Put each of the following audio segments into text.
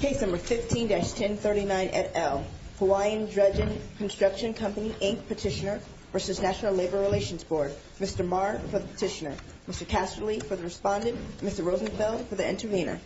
Case No. 15-1039 et al. Hawaiian Dredging Construction Company, Inc. Petitioner v. National Labor Relations Board Mr. Marr for the petitioner, Mr. Casterly for the respondent, Mr. Rosenfeld for the intervener Mr. Marr for the petitioner, Mr. Casterly for the respondent, Mr. Rosenfeld for the intervener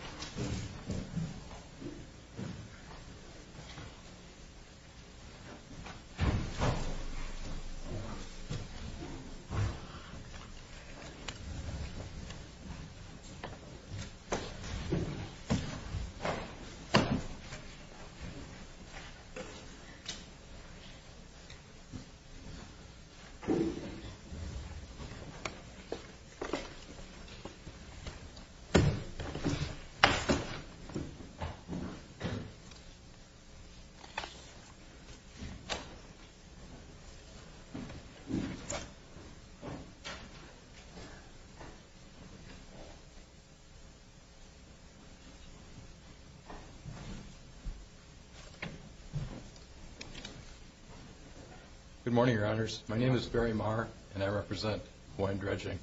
Good morning, your honors. My name is Barry Marr and I represent Hawaiian Dredging,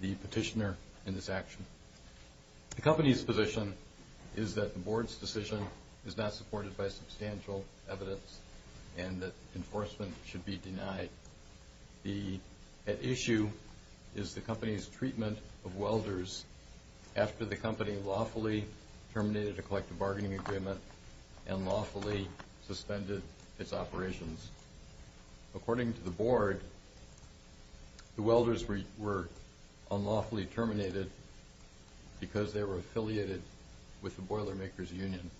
the petitioner in this action. The company's position is that the board's decision is not supported by substantial evidence and that enforcement should be denied. The issue is the company's treatment of welders after the company lawfully terminated a collective bargaining agreement and lawfully suspended its operations. According to the board, the welders were unlawfully terminated because they were affiliated with the Boilermakers Union.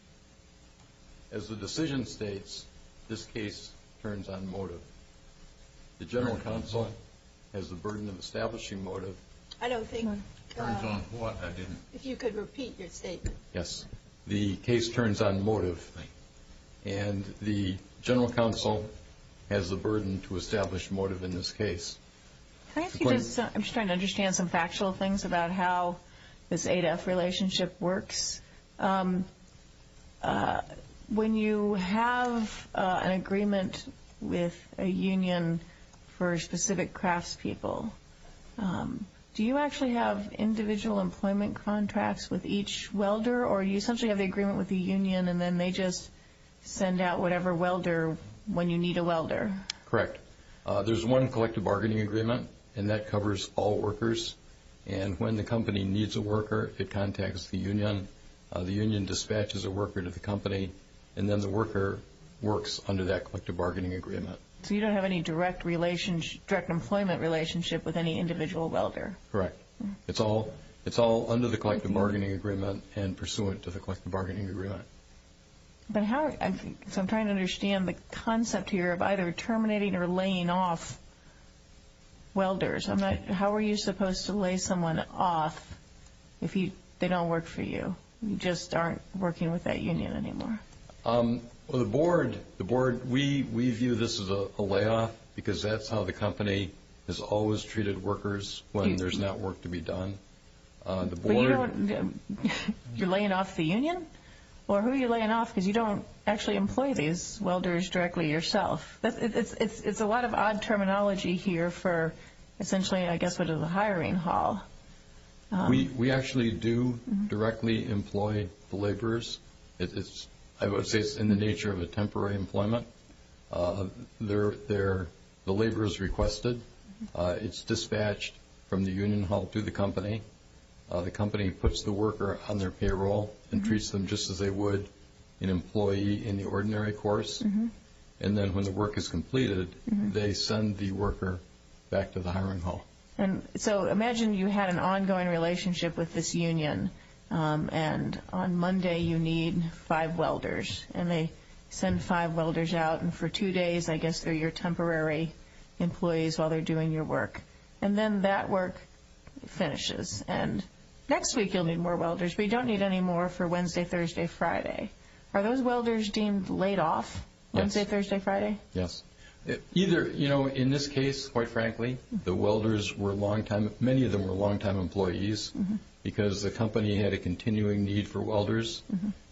As the decision states, this case turns on motive. The General Counsel has the burden of establishing motive. I don't think... Turns on what? I didn't... If you could repeat your statement. Yes. The case turns on motive and the General Counsel has the burden to establish motive in this case. I'm just trying to understand some factual things about how this ADEF relationship works. When you have an agreement with a union for specific craftspeople, do you actually have individual employment contracts with each welder? Or do you essentially have the agreement with the union and then they just send out whatever welder when you need a welder? Correct. There's one collective bargaining agreement and that covers all workers. And when the company needs a worker, it contacts the union. The union dispatches a worker to the company and then the worker works under that collective bargaining agreement. So you don't have any direct employment relationship with any individual welder? Correct. It's all under the collective bargaining agreement and pursuant to the collective bargaining agreement. So I'm trying to understand the concept here of either terminating or laying off welders. How are you supposed to lay someone off if they don't work for you? You just aren't working with that union anymore. The board, we view this as a layoff because that's how the company has always treated workers when there's not work to be done. But you don't, you're laying off the union? Or who are you laying off because you don't actually employ these welders directly yourself? It's a lot of odd terminology here for essentially I guess what is a hiring hall. We actually do directly employ the laborers. It's in the nature of a temporary employment. The labor is requested. It's dispatched from the union hall to the company. The company puts the worker on their payroll and treats them just as they would an employee in the ordinary course. And then when the work is completed, they send the worker back to the hiring hall. And so imagine you had an ongoing relationship with this union and on Monday you need five welders and they send five welders out and for two days I guess they're your temporary employees while they're doing your work. And then that work finishes. And next week you'll need more welders, but you don't need any more for Wednesday, Thursday, Friday. Are those welders deemed laid off Wednesday, Thursday, Friday? Yes. Either, you know, in this case, quite frankly, the welders were longtime, many of them were longtime employees because the company had a continuing need for welders.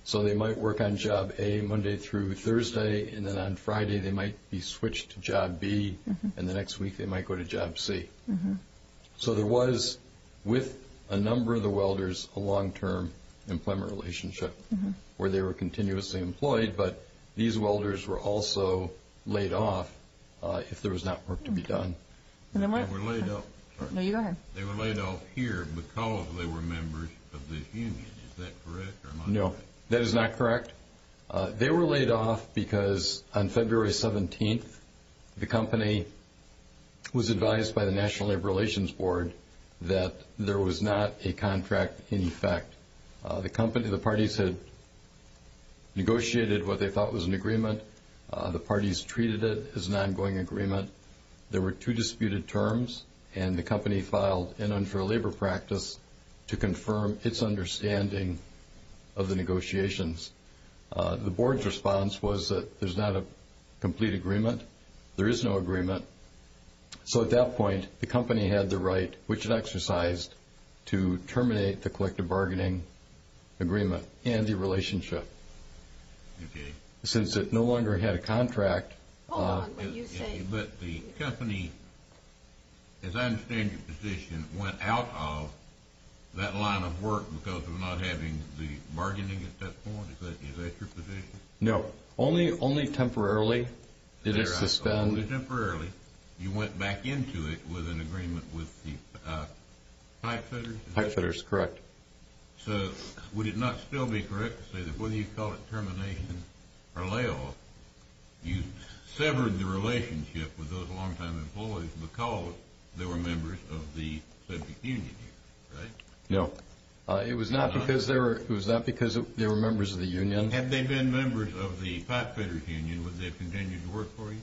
So they might work on job A Monday through Thursday and then on Friday they might be switched to job B and the next week they might go to job C. So there was, with a number of the welders, a long-term employment relationship where they were continuously employed, but these welders were also laid off if there was not work to be done. They were laid off. No, you go ahead. They were laid off here because they were members of this union. Is that correct or not? No, that is not correct. They were laid off because on February 17th the company was advised by the National Labor Relations Board that there was not a contract in effect. The company, the parties had negotiated what they thought was an agreement. The parties treated it as an ongoing agreement. There were two disputed terms, and the company filed an unfair labor practice to confirm its understanding of the negotiations. The board's response was that there's not a complete agreement, there is no agreement. So at that point the company had the right, which it exercised, to terminate the collective bargaining agreement and the relationship. Okay. Since it no longer had a contract. But the company, as I understand your position, went out of that line of work because of not having the bargaining at that point? Is that your position? No. Only temporarily it is suspended. Only temporarily. You went back into it with an agreement with the Heifetters? Heifetters, correct. So would it not still be correct to say that whether you call it termination or layoff, you severed the relationship with those longtime employees because they were members of the subject union, right? No. It was not because they were members of the union. Had they been members of the Pipefitters union, would they have continued to work for you?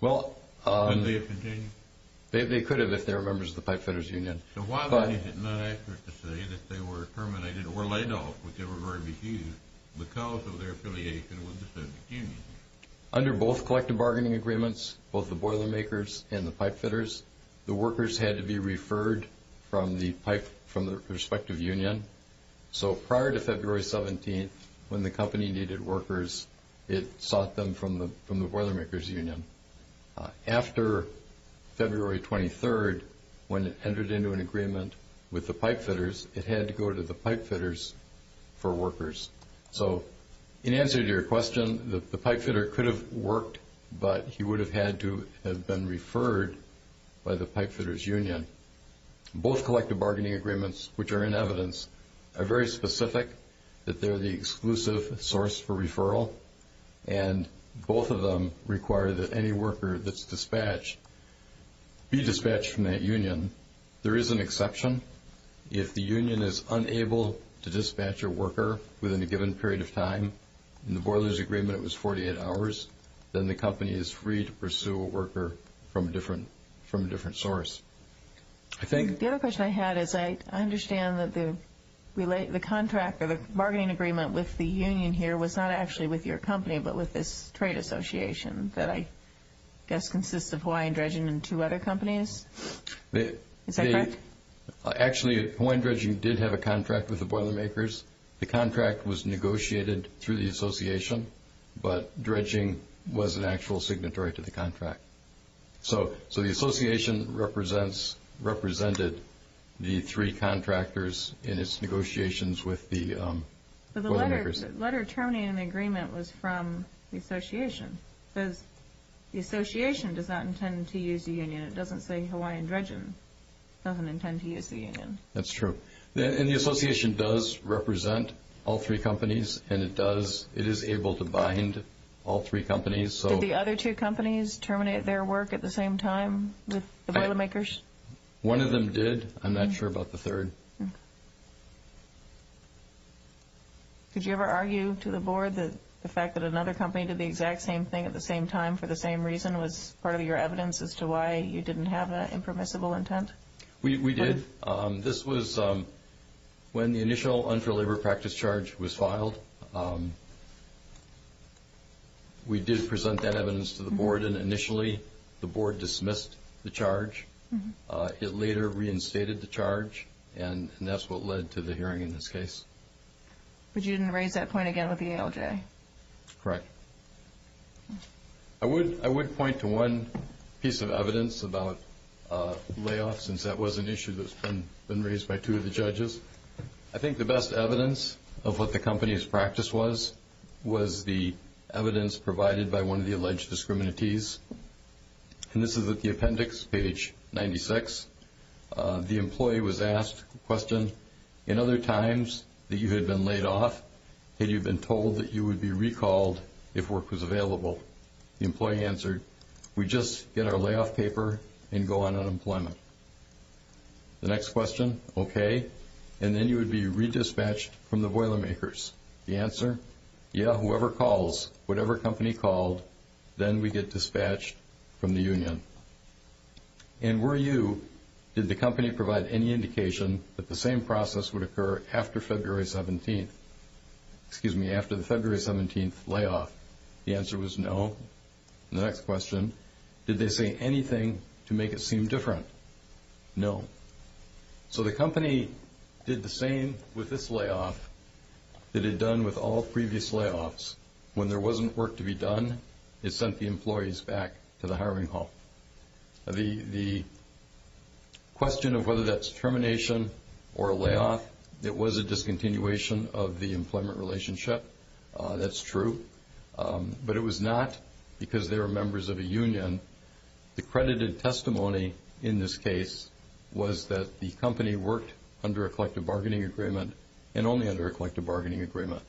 Would they have continued? They could have if they were members of the Pipefitters union. So why then is it not accurate to say that they were terminated or laid off, because of their affiliation with the subject union? Under both collective bargaining agreements, both the Boilermakers and the Pipefitters, the workers had to be referred from the respective union. So prior to February 17th, when the company needed workers, it sought them from the Boilermakers union. After February 23rd, when it entered into an agreement with the Pipefitters, it had to go to the Pipefitters for workers. So in answer to your question, the Pipefitter could have worked, but he would have had to have been referred by the Pipefitters union. Both collective bargaining agreements, which are in evidence, are very specific that they're the exclusive source for referral, and both of them require that any worker that's dispatched be dispatched from that union. There is an exception. If the union is unable to dispatch a worker within a given period of time, in the Boilermakers agreement it was 48 hours, then the company is free to pursue a worker from a different source. The other question I had is I understand that the contract or the bargaining agreement with the union here was not actually with your company, but with this trade association that I guess consists of Hawaiian Dredging and two other companies? Is that correct? Actually, Hawaiian Dredging did have a contract with the Boilermakers. The contract was negotiated through the association, but Dredging was an actual signatory to the contract. So the association represented the three contractors in its negotiations with the Boilermakers. But the letter terminating the agreement was from the association, because the association does not intend to use the union. It doesn't say Hawaiian Dredging doesn't intend to use the union. That's true. And the association does represent all three companies, and it is able to bind all three companies. Did the other two companies terminate their work at the same time, the Boilermakers? One of them did. I'm not sure about the third. Could you ever argue to the board that the fact that another company did the exact same thing at the same time for the same reason was part of your evidence as to why you didn't have an impermissible intent? We did. We did present that evidence to the board, and initially the board dismissed the charge. It later reinstated the charge, and that's what led to the hearing in this case. But you didn't raise that point again with the ALJ? Correct. I would point to one piece of evidence about layoffs, since that was an issue that's been raised by two of the judges. I think the best evidence of what the company's practice was was the evidence provided by one of the alleged discriminatees. And this is at the appendix, page 96. The employee was asked the question, in other times that you had been laid off, had you been told that you would be recalled if work was available? The employee answered, we just get our layoff paper and go on unemployment. The next question, okay. And then you would be redispatched from the Boilermakers. The answer, yeah, whoever calls, whatever company called, then we get dispatched from the union. And were you, did the company provide any indication that the same process would occur after February 17th? Excuse me, after the February 17th layoff? The answer was no. The next question, did they say anything to make it seem different? No. So the company did the same with this layoff that it had done with all previous layoffs. When there wasn't work to be done, it sent the employees back to the hiring hall. The question of whether that's termination or a layoff, it was a discontinuation of the employment relationship. That's true. But it was not because they were members of a union. The credited testimony in this case was that the company worked under a collective bargaining agreement and only under a collective bargaining agreement.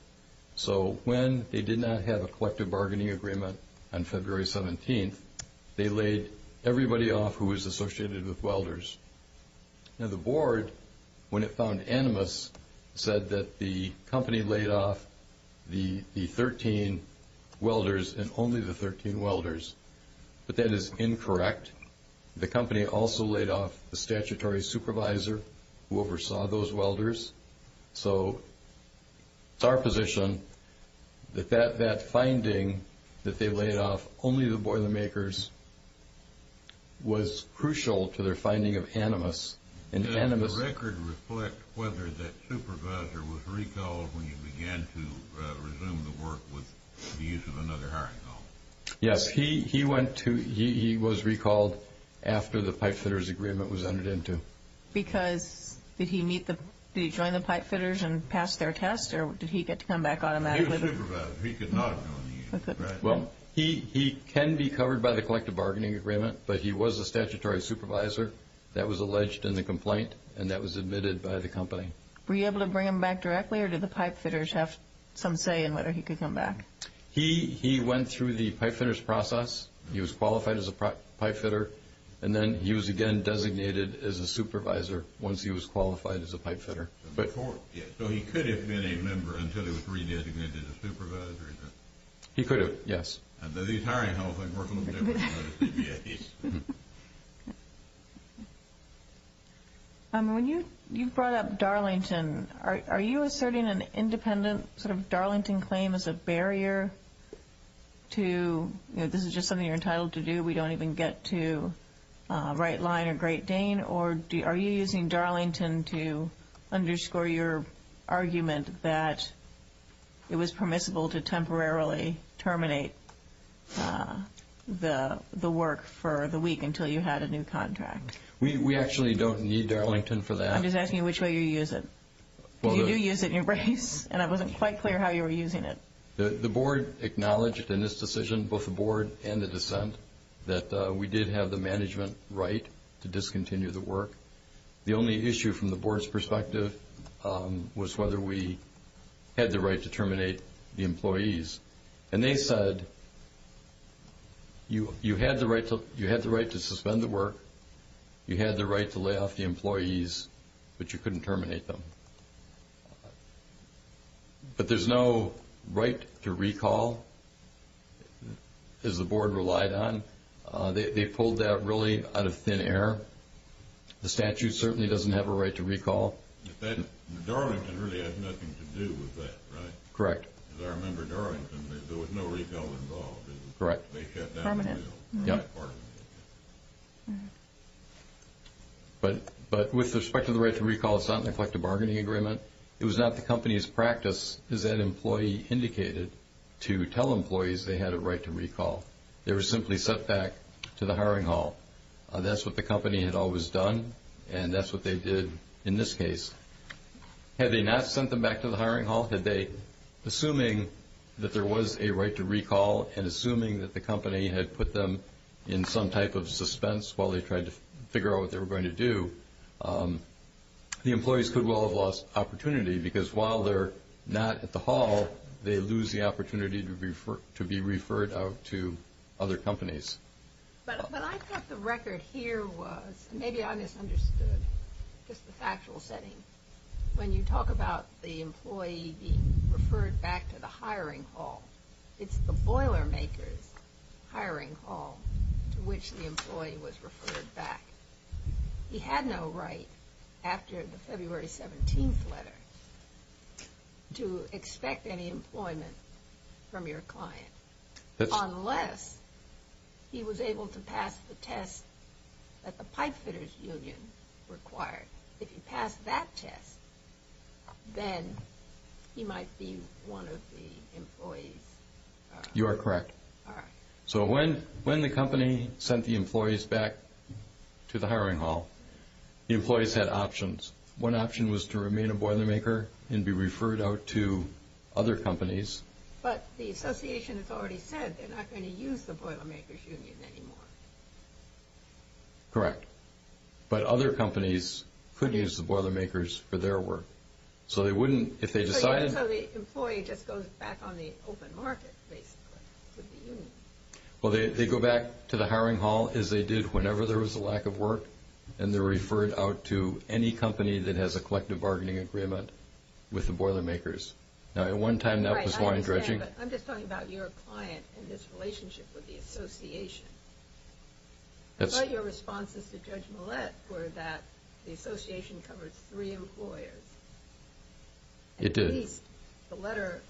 So when they did not have a collective bargaining agreement on February 17th, they laid everybody off who was associated with welders. Now the board, when it found animus, said that the company laid off the 13 welders and only the 13 welders. But that is incorrect. The company also laid off the statutory supervisor who oversaw those welders. So it's our position that that finding, that they laid off only the boilermakers, was crucial to their finding of animus. Does the record reflect whether that supervisor was recalled when you began to resume the work with the use of another hiring hall? Yes, he was recalled after the pipefitters agreement was entered into. Because did he join the pipefitters and pass their test or did he get to come back automatically? He was supervised. He could not have joined the union. Well, he can be covered by the collective bargaining agreement, but he was a statutory supervisor. That was alleged in the complaint and that was admitted by the company. Were you able to bring him back directly or did the pipefitters have some say in whether he could come back? He went through the pipefitters process. He was qualified as a pipefitter and then he was again designated as a supervisor once he was qualified as a pipefitter. So he could have been a member until he was re-designated as a supervisor? He could have, yes. And did the hiring hall thing work a little different? Yes. When you brought up Darlington, are you asserting an independent sort of Darlington claim as a barrier to, you know, this is just something you're entitled to do, we don't even get to Wright Line or Great Dane, or are you using Darlington to underscore your argument that it was permissible to temporarily terminate the work for the week until you had a new contract? We actually don't need Darlington for that. I'm just asking you which way you use it. Did you use it in your brace? And it wasn't quite clear how you were using it. The board acknowledged in this decision, both the board and the dissent, that we did have the management right to discontinue the work. The only issue from the board's perspective was whether we had the right to terminate the employees. And they said you had the right to suspend the work, you had the right to lay off the employees, but you couldn't terminate them. But there's no right to recall, as the board relied on. They pulled that really out of thin air. The statute certainly doesn't have a right to recall. Darlington really had nothing to do with that, right? Correct. Because I remember Darlington, there was no recall involved. Correct. They shut down the deal. Yeah. But with respect to the right to recall, it's not in the collective bargaining agreement. It was not the company's practice, as that employee indicated, to tell employees they had a right to recall. They were simply sent back to the hiring hall. That's what the company had always done, and that's what they did in this case. Had they not sent them back to the hiring hall, had they, assuming that there was a right to recall and assuming that the company had put them in some type of suspense while they tried to figure out what they were going to do, the employees could well have lost opportunity, because while they're not at the hall, they lose the opportunity to be referred out to other companies. But I thought the record here was, and maybe I misunderstood just the factual setting, when you talk about the employee being referred back to the hiring hall, it's the Boilermaker's hiring hall to which the employee was referred back. He had no right, after the February 17th letter, to expect any employment from your client unless he was able to pass the test that the pipefitters' union required. If he passed that test, then he might be one of the employees. You are correct. So when the company sent the employees back to the hiring hall, the employees had options. One option was to remain a Boilermaker and be referred out to other companies. But the association has already said they're not going to use the Boilermaker's union anymore. Correct. But other companies could use the Boilermaker's for their work. So they wouldn't, if they decided... So the employee just goes back on the open market, basically, to the union. Well, they go back to the hiring hall, as they did whenever there was a lack of work, and they're referred out to any company that has a collective bargaining agreement with the Boilermaker's. Now, at one time, that was line dredging. I'm just talking about your client and his relationship with the association. I thought your responses to Judge Millett were that the association covered three employers. It did. At least the letter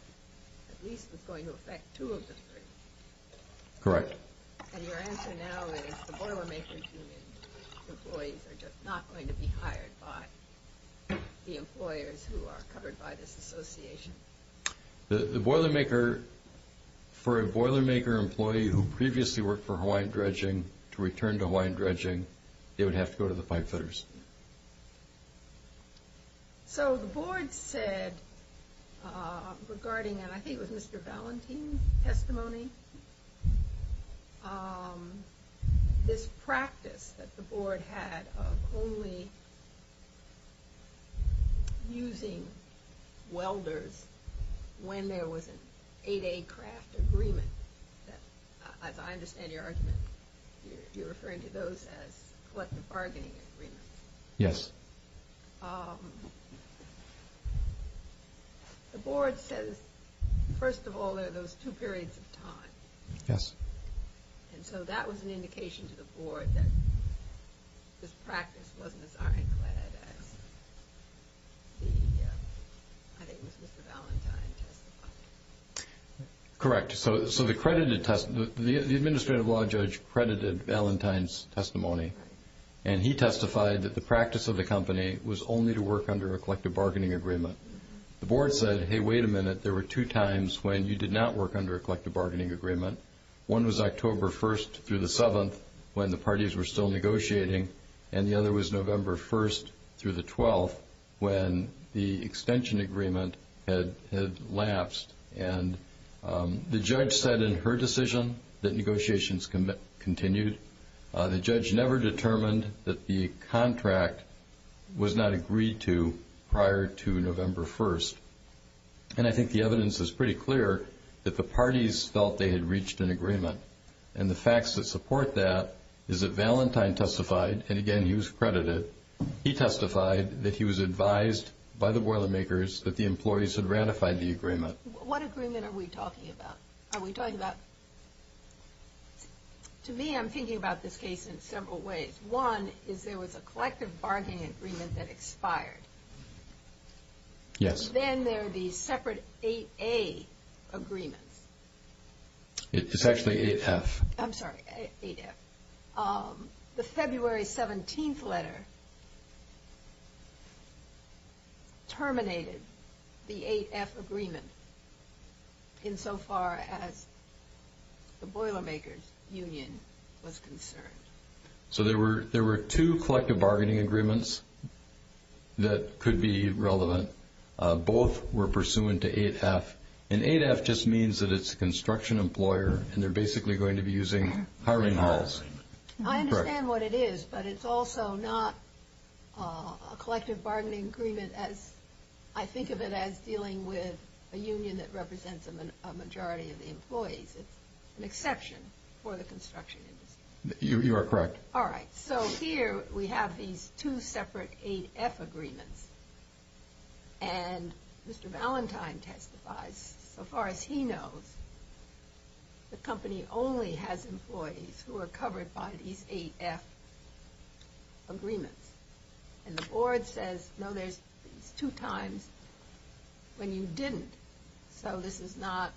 was going to affect two of the three. Correct. And your answer now is the Boilermaker's union employees are just not going to be hired by the employers who are covered by this association. The Boilermaker, for a Boilermaker employee who previously worked for Hawaiian Dredging to return to Hawaiian Dredging, they would have to go to the pipefitters. So the board said regarding, and I think it was Mr. Valentin's testimony, this practice that the board had of only using welders when there was an 8A craft agreement. As I understand your argument, you're referring to those as collective bargaining agreements. Yes. The board says, first of all, there are those two periods of time. Yes. And so that was an indication to the board that this practice wasn't as ironclad as the, I think it was Mr. Valentin's testimony. Correct. So the administrative law judge credited Valentin's testimony, and he testified that the practice of the company was only to work under a collective bargaining agreement. The board said, hey, wait a minute. There were two times when you did not work under a collective bargaining agreement. One was October 1st through the 7th when the parties were still negotiating, and the other was November 1st through the 12th when the extension agreement had lapsed. And the judge said in her decision that negotiations continued. The judge never determined that the contract was not agreed to prior to November 1st. And I think the evidence is pretty clear that the parties felt they had reached an agreement. And the facts that support that is that Valentin testified, and, again, he was credited. He testified that he was advised by the boilermakers that the employees had ratified the agreement. What agreement are we talking about? To me, I'm thinking about this case in several ways. One is there was a collective bargaining agreement that expired. Yes. Then there are these separate 8A agreements. It's actually 8F. I'm sorry, 8F. The February 17th letter terminated the 8F agreement insofar as the boilermakers' union was concerned. So there were two collective bargaining agreements that could be relevant. Both were pursuant to 8F. And 8F just means that it's a construction employer, and they're basically going to be using hiring halls. I understand what it is, but it's also not a collective bargaining agreement as I think of it as dealing with a union that represents a majority of the employees. It's an exception for the construction industry. You are correct. All right. So here we have these two separate 8F agreements. And Mr. Valentine testifies. So far as he knows, the company only has employees who are covered by these 8F agreements. And the board says, no, there's two times when you didn't. So this is not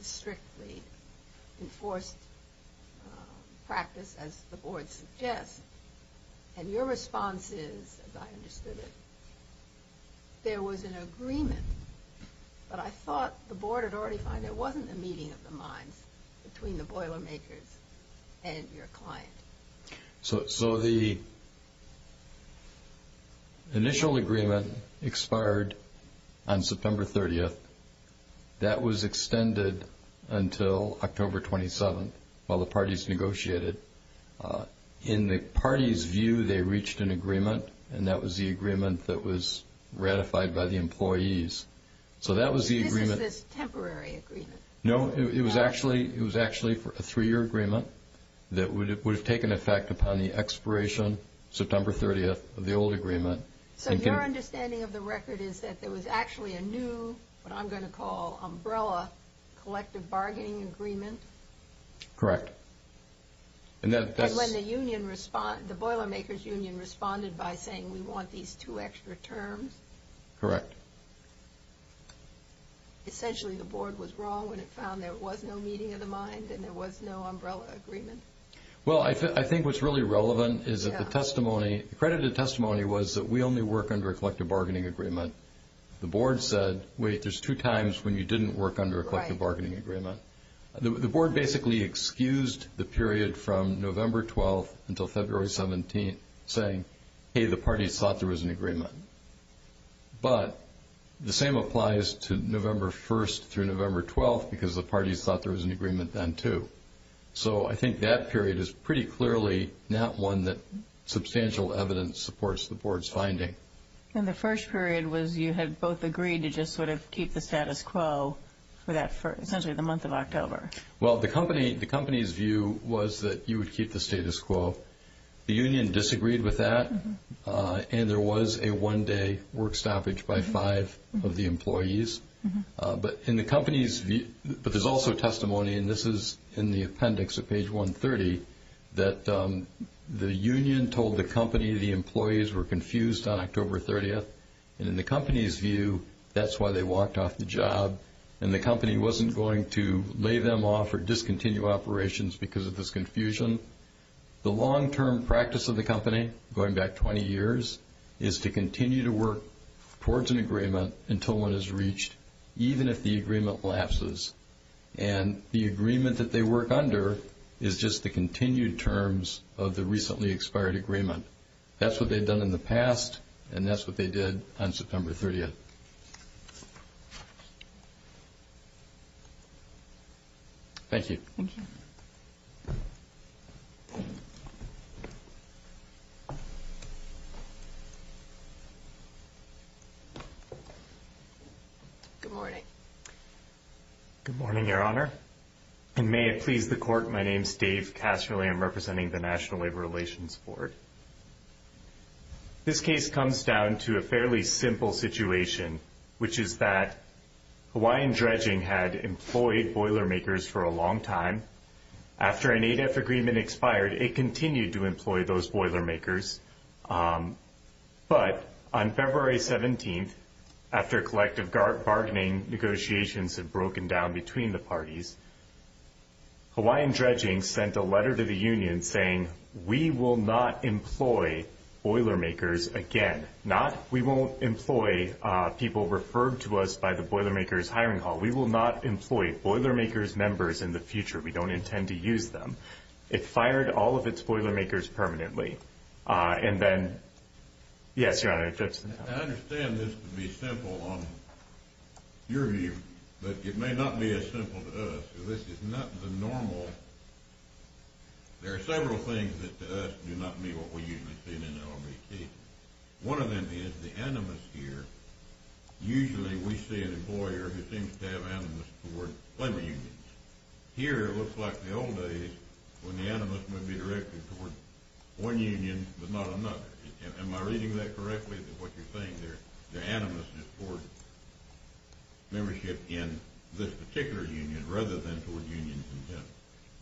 a strictly enforced practice as the board suggests. And your response is, as I understood it, there was an agreement. But I thought the board had already found there wasn't a meeting of the minds between the boilermakers and your client. So the initial agreement expired on September 30th. That was extended until October 27th while the parties negotiated. In the party's view, they reached an agreement, and that was the agreement that was ratified by the employees. So that was the agreement. This is a temporary agreement. No, it was actually a three-year agreement that would have taken effect upon the expiration, September 30th, of the old agreement. So your understanding of the record is that there was actually a new, what I'm going to call, umbrella collective bargaining agreement? Correct. And when the union responded, the boilermakers union responded by saying, we want these two extra terms. Correct. Essentially, the board was wrong when it found there was no meeting of the mind and there was no umbrella agreement. Well, I think what's really relevant is that the testimony, the credited testimony, was that we only work under a collective bargaining agreement. The board said, wait, there's two times when you didn't work under a collective bargaining agreement. The board basically excused the period from November 12th until February 17th, saying, hey, the parties thought there was an agreement. But the same applies to November 1st through November 12th because the parties thought there was an agreement then, too. So I think that period is pretty clearly not one that substantial evidence supports the board's finding. And the first period was you had both agreed to just sort of keep the status quo for essentially the month of October. Well, the company's view was that you would keep the status quo. The union disagreed with that, and there was a one-day work stoppage by five of the employees. But in the company's view, but there's also testimony, and this is in the appendix at page 130, that the union told the company the employees were confused on October 30th. And in the company's view, that's why they walked off the job. And the company wasn't going to lay them off or discontinue operations because of this confusion. The long-term practice of the company, going back 20 years, is to continue to work towards an agreement until one is reached, even if the agreement lapses. And the agreement that they work under is just the continued terms of the recently expired agreement. That's what they've done in the past, and that's what they did on September 30th. Thank you. Thank you. Good morning. Good morning, Your Honor. And may it please the Court, my name is Dave Casserly. I'm representing the National Labor Relations Board. This case comes down to a fairly simple situation, which is that Hawaiian Dredging had employed Boilermakers for a long time. After an ADEF agreement expired, it continued to employ those Boilermakers. But on February 17th, after collective bargaining negotiations had broken down between the parties, Hawaiian Dredging sent a letter to the union saying, We will not employ Boilermakers again. Not, we won't employ people referred to us by the Boilermakers hiring hall. We will not employ Boilermakers members in the future. We don't intend to use them. It fired all of its Boilermakers permanently. And then, yes, Your Honor. I understand this to be simple on your view, but it may not be as simple to us. This is not the normal. There are several things that to us do not meet what we usually see in an LBP. One of them is the animus here. Usually we see an employer who seems to have animus toward labor unions. Here it looks like the old days when the animus may be directed toward one union but not another. Am I reading that correctly, that what you're saying there, the animus is toward membership in this particular union rather than toward unions in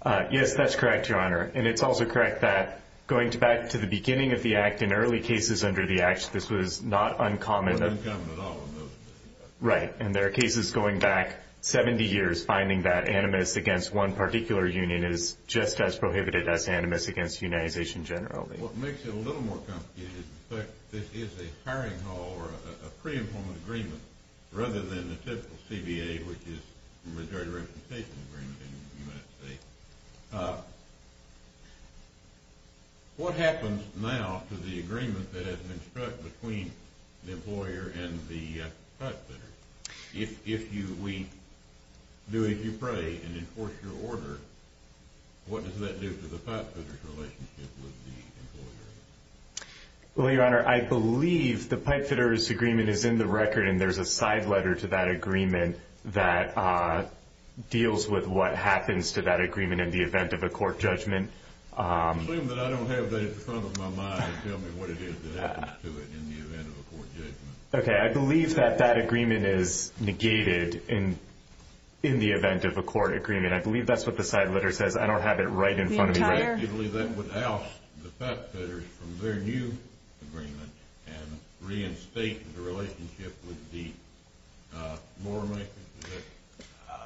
general? Yes, that's correct, Your Honor. And it's also correct that going back to the beginning of the Act, in early cases under the Act, this was not uncommon. Not uncommon at all in those cases. Right. And there are cases going back 70 years finding that animus against one particular union is just as prohibited as animus against unionization generally. What makes it a little more complicated is the fact that this is a hiring hall or a pre-employment agreement rather than the typical CBA, which is the majority representation agreement in the United States. What happens now to the agreement that has been struck between the employer and the pipefitter? If we do as you pray and enforce your order, what does that do to the pipefitter's relationship with the employer? Well, Your Honor, I believe the pipefitter's agreement is in the record and there's a side letter to that agreement that deals with what happens to that agreement in the event of a court judgment. Claim that I don't have that at the front of my mind and tell me what it is that happens to it in the event of a court judgment. Okay. I believe that that agreement is negated in the event of a court agreement. I believe that's what the side letter says. I don't have it right in front of me. Do you believe that would oust the pipefitters from their new agreement and reinstate the relationship with the boiler makers?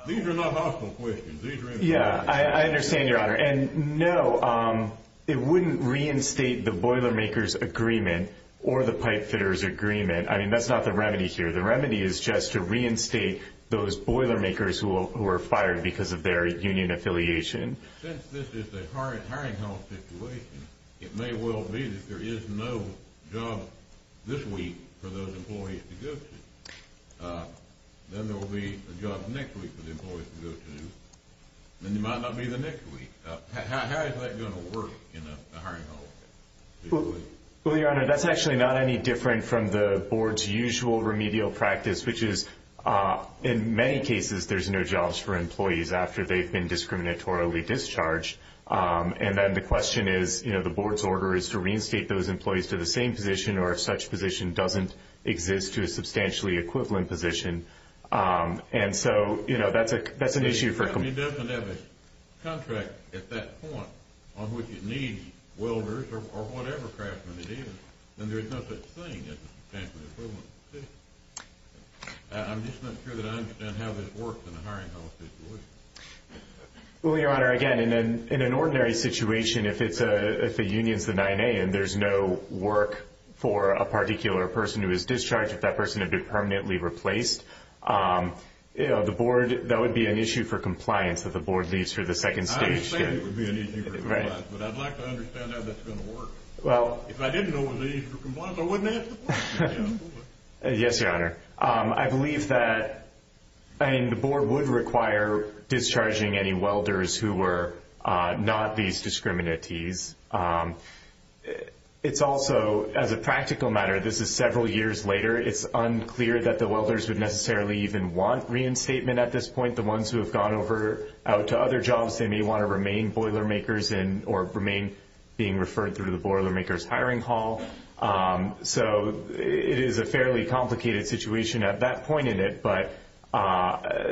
These are not hostile questions. Yeah, I understand, Your Honor. And no, it wouldn't reinstate the boiler makers' agreement or the pipefitters' agreement. I mean, that's not the remedy here. The remedy is just to reinstate those boiler makers who were fired because of their union affiliation. Since this is the current hiring hall situation, it may well be that there is no job this week for those employees to go to. Then there will be a job next week for the employees to go to. Then there might not be the next week. How is that going to work in a hiring hall? Well, Your Honor, that's actually not any different from the board's usual remedial practice, which is in many cases there's no jobs for employees after they've been discriminatorily discharged. And then the question is, you know, the board's order is to reinstate those employees to the same position or if such position doesn't exist, to a substantially equivalent position. And so, you know, that's an issue. If a company doesn't have a contract at that point on which it needs welders or whatever craftsman it is, then there's no such thing as a substantially equivalent position. I'm just not sure that I understand how this works in a hiring hall situation. Well, Your Honor, again, in an ordinary situation, if a union is the 9A and there's no work for a particular person who is discharged, if that person had been permanently replaced, you know, the board, that would be an issue for compliance that the board leaves for the second stage. I understand it would be an issue for compliance, but I'd like to understand how that's going to work. Well, if I didn't know it was an issue for compliance, I wouldn't ask the board. Yes, Your Honor. I believe that, I mean, the board would require discharging any welders who were not these discriminates. It's also, as a practical matter, this is several years later, it's unclear that the welders would necessarily even want reinstatement at this point. The ones who have gone out to other jobs, they may want to remain Boilermakers or remain being referred through the Boilermakers hiring hall. So it is a fairly complicated situation at that point in it, but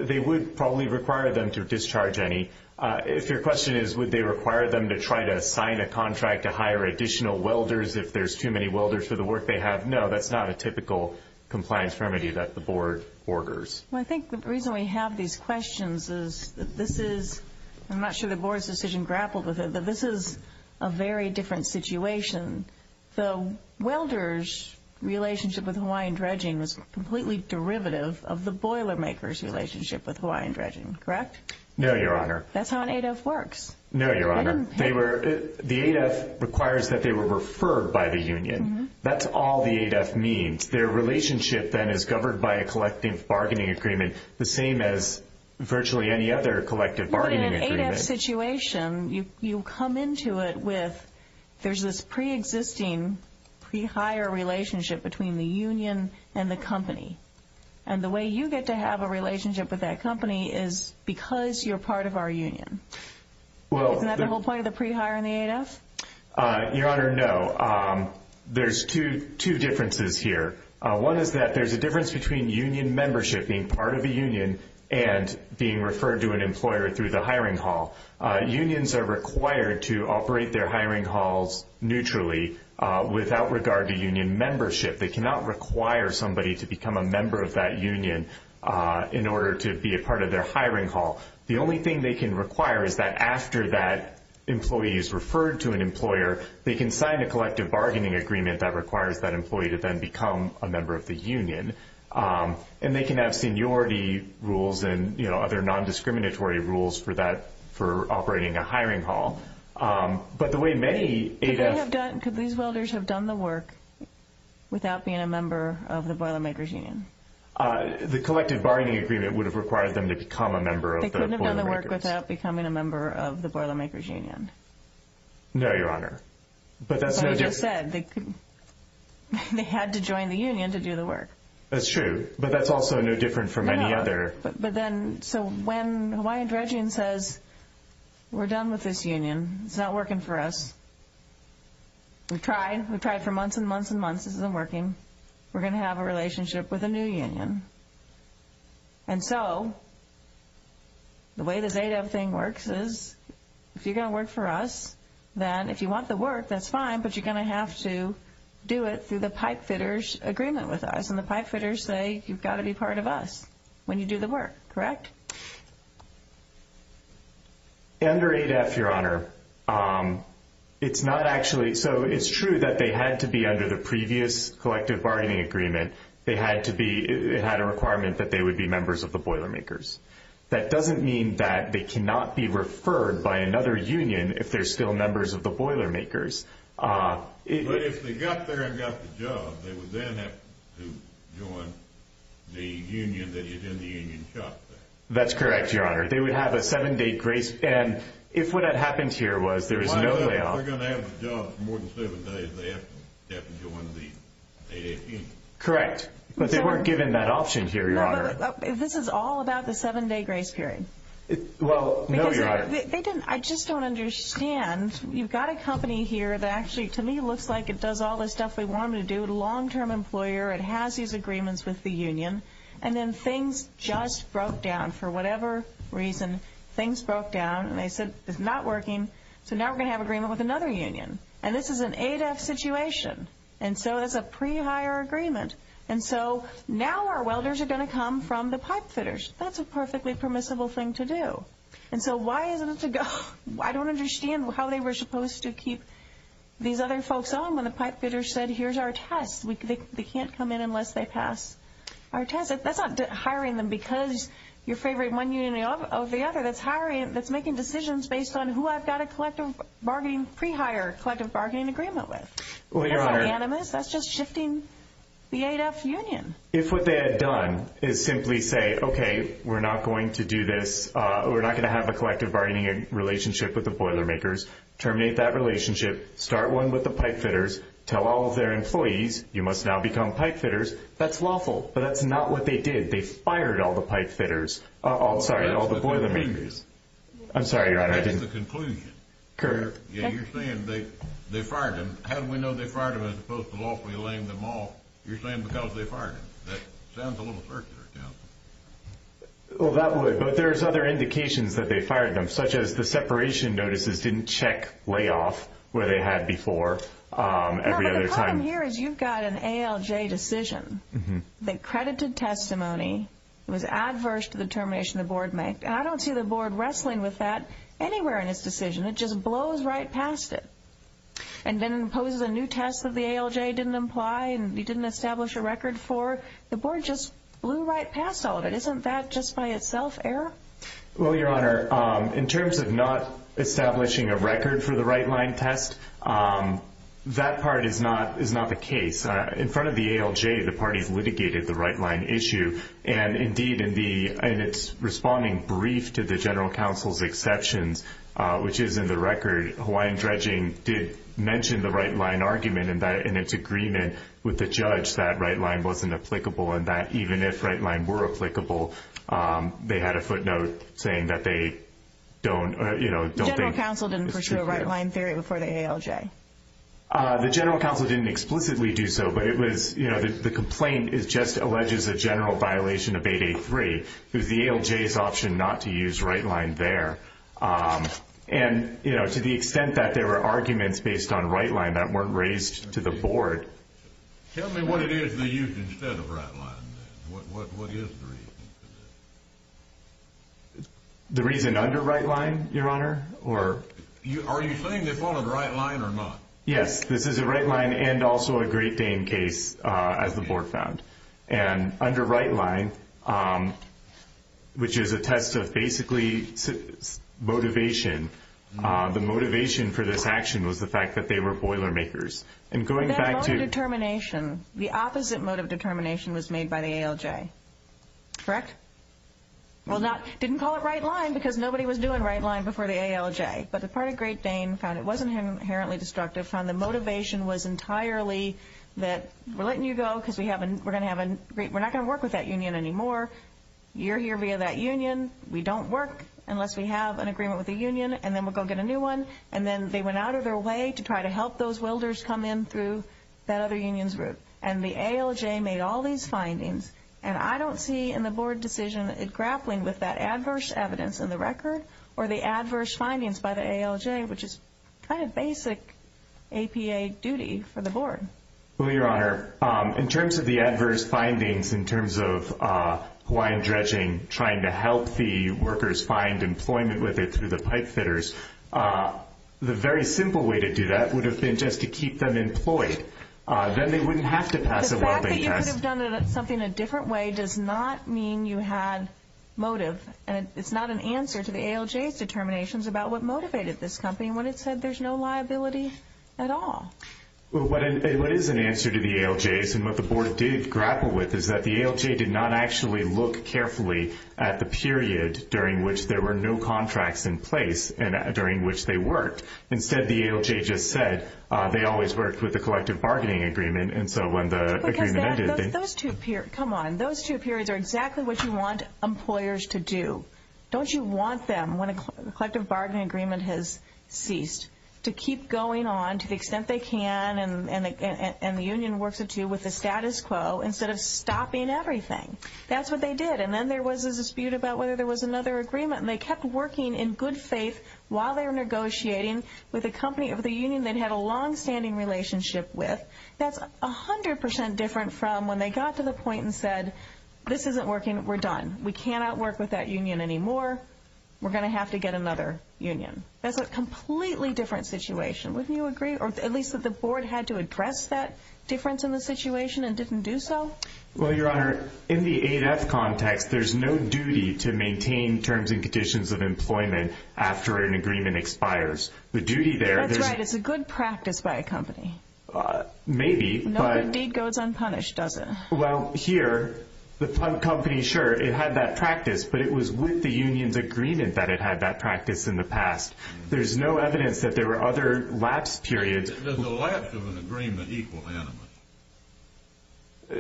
they would probably require them to discharge any. If your question is would they require them to try to sign a contract to hire additional welders if there's too many welders for the work they have, no, that's not a typical compliance remedy that the board orders. Well, I think the reason we have these questions is that this is, I'm not sure the board's decision grappled with it, but this is a very different situation. The welders' relationship with Hawaiian Dredging was completely derivative of the Boilermakers' relationship with Hawaiian Dredging, correct? No, Your Honor. That's how an ADEF works. No, Your Honor. The ADEF requires that they were referred by the union. That's all the ADEF means. Their relationship then is governed by a collective bargaining agreement, the same as virtually any other collective bargaining agreement. But in an ADEF situation, you come into it with there's this preexisting pre-hire relationship between the union and the company. And the way you get to have a relationship with that company is because you're part of our union. Isn't that the whole point of the pre-hire and the ADEF? Your Honor, no. There's two differences here. One is that there's a difference between union membership, being part of a union, and being referred to an employer through the hiring hall. Unions are required to operate their hiring halls neutrally without regard to union membership. They cannot require somebody to become a member of that union in order to be a part of their hiring hall. The only thing they can require is that after that employee is referred to an employer, they can sign a collective bargaining agreement that requires that employee to then become a member of the union. And they can have seniority rules and other non-discriminatory rules for operating a hiring hall. But the way many ADEFs- Could these welders have done the work without being a member of the Boilermakers Union? The collective bargaining agreement would have required them to become a member of the Boilermakers. They couldn't have done the work without becoming a member of the Boilermakers Union. No, Your Honor. That's what I just said. They had to join the union to do the work. That's true, but that's also no different from any other- So when Hawaiian Dredging says, we're done with this union, it's not working for us, we've tried, we've tried for months and months and months, this isn't working, we're going to have a relationship with a new union. And so, the way this ADEF thing works is, if you're going to work for us, then if you want the work, that's fine, but you're going to have to do it through the pipefitters' agreement with us. And the pipefitters say, you've got to be part of us when you do the work, correct? Under ADEF, Your Honor, it's not actually- So it's true that they had to be under the previous collective bargaining agreement. It had a requirement that they would be members of the Boilermakers. That doesn't mean that they cannot be referred by another union if they're still members of the Boilermakers. But if they got there and got the job, they would then have to join the union that is in the union shop there. That's correct, Your Honor. They would have a seven-day grace- If they're going to have a job for more than seven days, they have to join the ADEF union. Correct, but they weren't given that option here, Your Honor. This is all about the seven-day grace period. Well, no, Your Honor. I just don't understand. You've got a company here that actually, to me, looks like it does all the stuff we want it to do. It's a long-term employer. It has these agreements with the union. And then things just broke down for whatever reason. Things broke down, and they said, it's not working. So now we're going to have an agreement with another union. And this is an ADEF situation. And so it's a pre-hire agreement. And so now our welders are going to come from the pipefitters. That's a perfectly permissible thing to do. And so why isn't it to go- I don't understand how they were supposed to keep these other folks on when the pipefitters said, here's our test. They can't come in unless they pass our test. That's not hiring them because you're favoring one union over the other. That's making decisions based on who I've got a pre-hire collective bargaining agreement with. That's not unanimous. That's just shifting the ADEF union. If what they had done is simply say, okay, we're not going to do this. We're not going to have a collective bargaining relationship with the boilermakers. Terminate that relationship. Start one with the pipefitters. Tell all of their employees, you must now become pipefitters. That's lawful. But that's not what they did. They fired all the pipefitters. Sorry, all the boilermakers. I'm sorry, Your Honor, I didn't- That's the conclusion. You're saying they fired them. How do we know they fired them as opposed to lawfully laying them off? You're saying because they fired them. That sounds a little circular to me. Well, that would. But there's other indications that they fired them, such as the separation notices didn't check layoff where they had before every other time. What I'm hearing is you've got an ALJ decision that credited testimony. It was adverse to the determination the board made. And I don't see the board wrestling with that anywhere in its decision. It just blows right past it and then imposes a new test that the ALJ didn't imply and didn't establish a record for. The board just blew right past all of it. Isn't that just by itself error? Well, Your Honor, in terms of not establishing a record for the right-line test, that part is not the case. In front of the ALJ, the parties litigated the right-line issue. And, indeed, in its responding brief to the general counsel's exceptions, which is in the record, Hawaiian Dredging did mention the right-line argument in its agreement with the judge that right-line wasn't applicable and that even if right-line were applicable, they had a footnote saying that they don't think it should be there. Was there a right-line theory before the ALJ? The general counsel didn't explicitly do so, but the complaint just alleges a general violation of 8A3. It was the ALJ's option not to use right-line there. And to the extent that there were arguments based on right-line that weren't raised to the board. Tell me what it is they used instead of right-line. What is the reason for this? The reason under right-line, Your Honor? Are you saying they followed right-line or not? Yes, this is a right-line and also a Great Dane case, as the board found. And under right-line, which is a test of basically motivation, the motivation for this action was the fact that they were boilermakers. And going back to— That motive determination, the opposite motive determination was made by the ALJ. Correct? Well, didn't call it right-line because nobody was doing right-line before the ALJ. But the part of Great Dane found it wasn't inherently destructive, found the motivation was entirely that we're letting you go because we're not going to work with that union anymore. You're here via that union. We don't work unless we have an agreement with the union, and then we'll go get a new one. And then they went out of their way to try to help those welders come in through that other union's route. And the ALJ made all these findings. And I don't see in the board decision grappling with that adverse evidence in the record or the adverse findings by the ALJ, which is kind of basic APA duty for the board. Well, Your Honor, in terms of the adverse findings in terms of Hawaiian Dredging trying to help the workers find employment with it through the pipefitters, the very simple way to do that would have been just to keep them employed. Then they wouldn't have to pass a welding test. The fact that you could have done something a different way does not mean you had motive. And it's not an answer to the ALJ's determinations about what motivated this company when it said there's no liability at all. Well, what is an answer to the ALJ's and what the board did grapple with is that the ALJ did not actually look carefully at the period during which there were no contracts in place during which they worked. Instead, the ALJ just said they always worked with the collective bargaining agreement. And so when the agreement ended, they – Because those two periods, come on, those two periods are exactly what you want employers to do. Don't you want them, when a collective bargaining agreement has ceased, to keep going on to the extent they can and the union works it to with the status quo instead of stopping everything? That's what they did. And then there was a dispute about whether there was another agreement. And they kept working in good faith while they were negotiating with a company of the union they'd had a longstanding relationship with. That's 100% different from when they got to the point and said, this isn't working. We're done. We cannot work with that union anymore. We're going to have to get another union. That's a completely different situation. Wouldn't you agree? Or at least that the board had to address that difference in the situation and didn't do so? Well, Your Honor, in the 8F context, there's no duty to maintain terms and conditions of employment after an agreement expires. The duty there – That's right. It's a good practice by a company. Maybe, but – No good deed goes unpunished, does it? Well, here, the company, sure, it had that practice. But it was with the union's agreement that it had that practice in the past. There's no evidence that there were other lapse periods. Does the lapse of an agreement equal animus?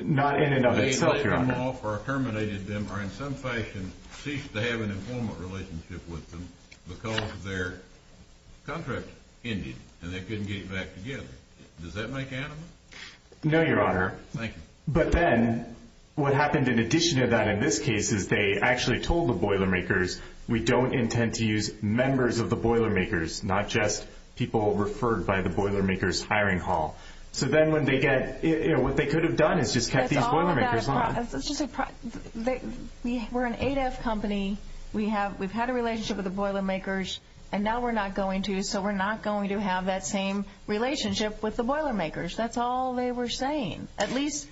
Not in and of itself, Your Honor. They let them off or terminated them or in some fashion ceased to have an employment relationship with them because their contract ended and they couldn't get it back together. Does that make animus? No, Your Honor. Thank you. But then what happened in addition to that in this case is they actually told the Boilermakers, we don't intend to use members of the Boilermakers, not just people referred by the Boilermakers hiring hall. So then when they get – what they could have done is just kept these Boilermakers on. We're an ADEF company. We've had a relationship with the Boilermakers, and now we're not going to, so we're not going to have that same relationship with the Boilermakers. That's all they were saying. At least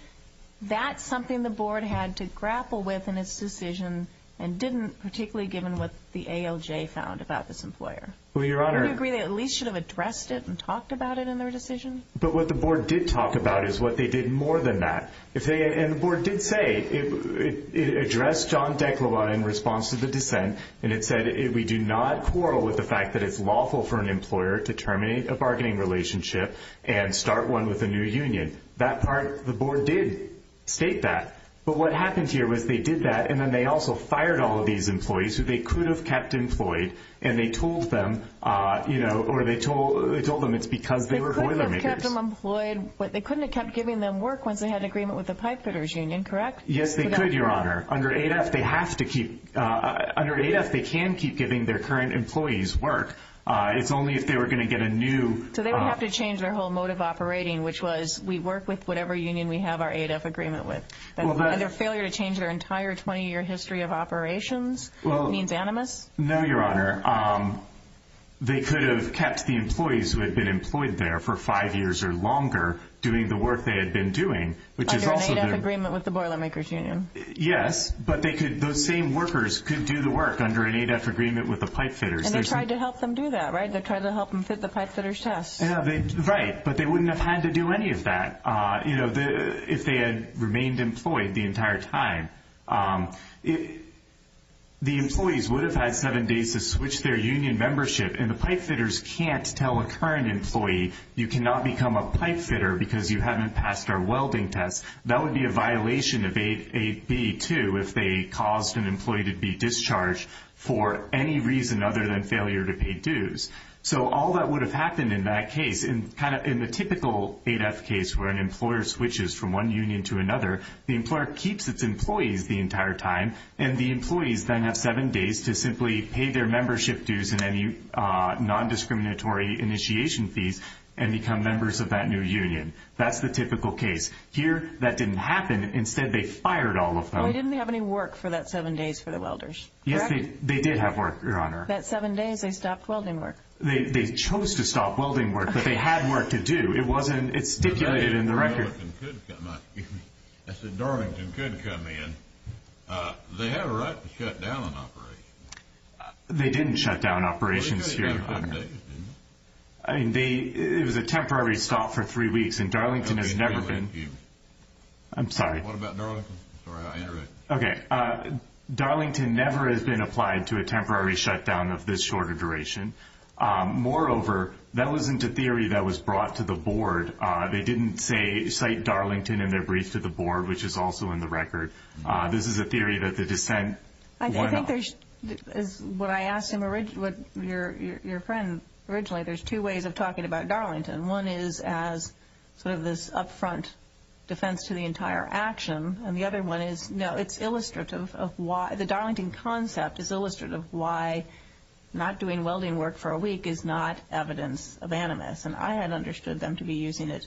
that's something the board had to grapple with in its decision and didn't particularly given what the ALJ found about this employer. Well, Your Honor – Do you agree they at least should have addressed it and talked about it in their decision? But what the board did talk about is what they did more than that, and the board did say it addressed John Deklava in response to the dissent, and it said we do not quarrel with the fact that it's lawful for an employer to terminate a bargaining relationship and start one with a new union. That part the board did state that, but what happened here was they did that, and then they also fired all of these employees who they could have kept employed, and they told them it's because they were Boilermakers. They could have kept them employed, but they couldn't have kept giving them work once they had an agreement with the pipefitters union, correct? Yes, they could, Your Honor. Under ADEF, they can keep giving their current employees work. It's only if they were going to get a new – So they would have to change their whole mode of operating, which was we work with whatever union we have our ADEF agreement with. And their failure to change their entire 20-year history of operations means animus? No, Your Honor. They could have kept the employees who had been employed there for five years or longer doing the work they had been doing, which is also the – Under an ADEF agreement with the Boilermakers union. Yes, but those same workers could do the work under an ADEF agreement with the pipefitters. And they tried to help them do that, right? They tried to help them fit the pipefitters test. Right, but they wouldn't have had to do any of that if they had remained employed the entire time. The employees would have had seven days to switch their union membership, and the pipefitters can't tell a current employee, you cannot become a pipefitter because you haven't passed our welding test. That would be a violation of AB2 if they caused an employee to be discharged for any reason other than failure to pay dues. So all that would have happened in that case. In the typical ADEF case where an employer switches from one union to another, the employer keeps its employees the entire time, and the employees then have seven days to simply pay their membership dues and any nondiscriminatory initiation fees and become members of that new union. That's the typical case. Here, that didn't happen. Instead, they fired all of them. They didn't have any work for that seven days for the welders, correct? Yes, they did have work, Your Honor. That seven days they stopped welding work. They chose to stop welding work, but they had work to do. It wasn't stipulated in the record. I said Darlington could come in. They had a right to shut down an operation. They didn't shut down operations, Your Honor. It was a temporary stop for three weeks, and Darlington has never been. I'm sorry. What about Darlington? Okay. Darlington never has been applied to a temporary shutdown of this shorter duration. Moreover, that wasn't a theory that was brought to the board. They didn't cite Darlington in their brief to the board, which is also in the record. This is a theory that the dissent brought up. I think there's, what I asked your friend originally, there's two ways of talking about Darlington. One is as sort of this upfront defense to the entire action, and the other one is, no, it's illustrative of why the Darlington concept is illustrative of why not doing welding work for a week is not evidence of animus, and I had understood them to be using it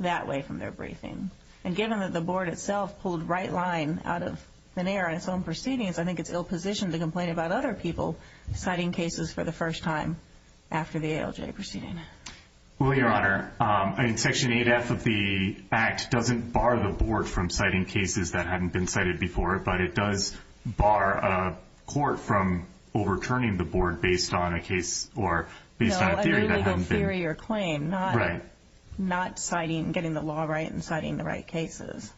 that way from their briefing. And given that the board itself pulled right line out of thin air in its own proceedings, I think it's ill-positioned to complain about other people citing cases for the first time after the ALJ proceeding. Well, Your Honor, Section 8F of the Act doesn't bar the board from citing cases that hadn't been cited before, but it does bar a court from overturning the board based on a case or based on a theory that hadn't been. Complained, not citing, getting the law right and citing the right cases.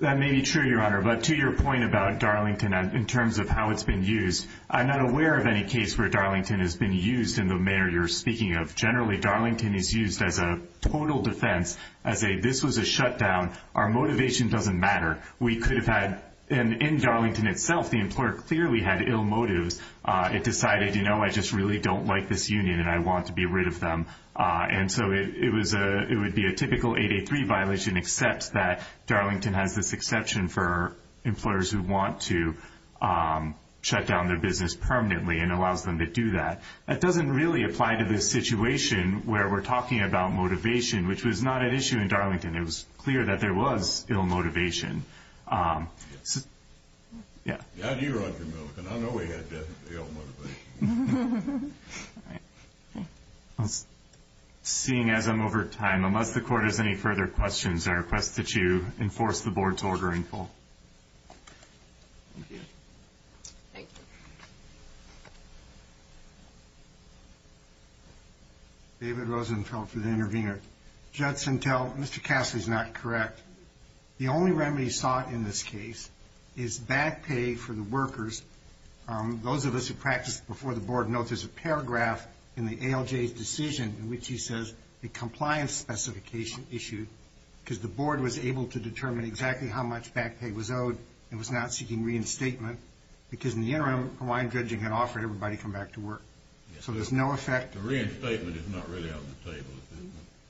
That may be true, Your Honor, but to your point about Darlington in terms of how it's been used, I'm not aware of any case where Darlington has been used in the manner you're speaking of. Generally, Darlington is used as a total defense, as a this was a shutdown, our motivation doesn't matter. We could have had, and in Darlington itself, the employer clearly had ill motives. It decided, you know, I just really don't like this union and I want to be rid of them. And so it would be a typical 883 violation except that Darlington has this exception for employers who want to shut down their business permanently and allows them to do that. That doesn't really apply to this situation where we're talking about motivation, which was not an issue in Darlington. It was clear that there was ill motivation. Yeah. Yeah, you're on your move, and I know we had ill motivation. All right. Seeing as I'm over time, unless the court has any further questions, I request that you enforce the board's order in full. Thank you. Thank you. David Rosenfeld for The Intervener. Judson Tell, Mr. Cassidy's not correct. The only remedy sought in this case is back pay for the workers. Those of us who practiced before the board know there's a paragraph in the ALJ's decision in which he says a compliance specification issued because the board was able to determine exactly how much back pay was owed and was not seeking reinstatement because in the interim, Hawaiian Judging had offered everybody to come back to work. So there's no effect. The reinstatement is not really on the table.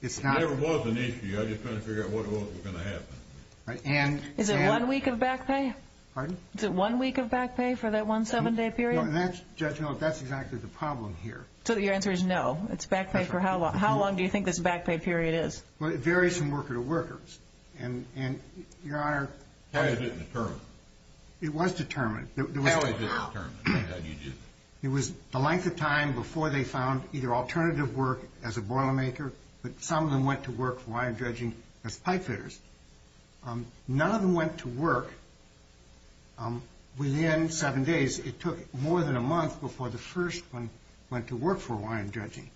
It's not. There was an issue. I just couldn't figure out what was going to happen. Is it one week of back pay? Pardon? Is it one week of back pay for that one seven-day period? No, and that's, Judge Millett, that's exactly the problem here. So your answer is no? It's back pay for how long? How long do you think this back pay period is? Well, it varies from worker to worker. And, Your Honor, Why is it determined? It was determined. How is it determined? It was the length of time before they found either alternative work as a boilermaker, but some of them went to work for Hawaiian Judging as pipefitters. None of them went to work within seven days. It took more than a month before the first one went to work for Hawaiian Judging.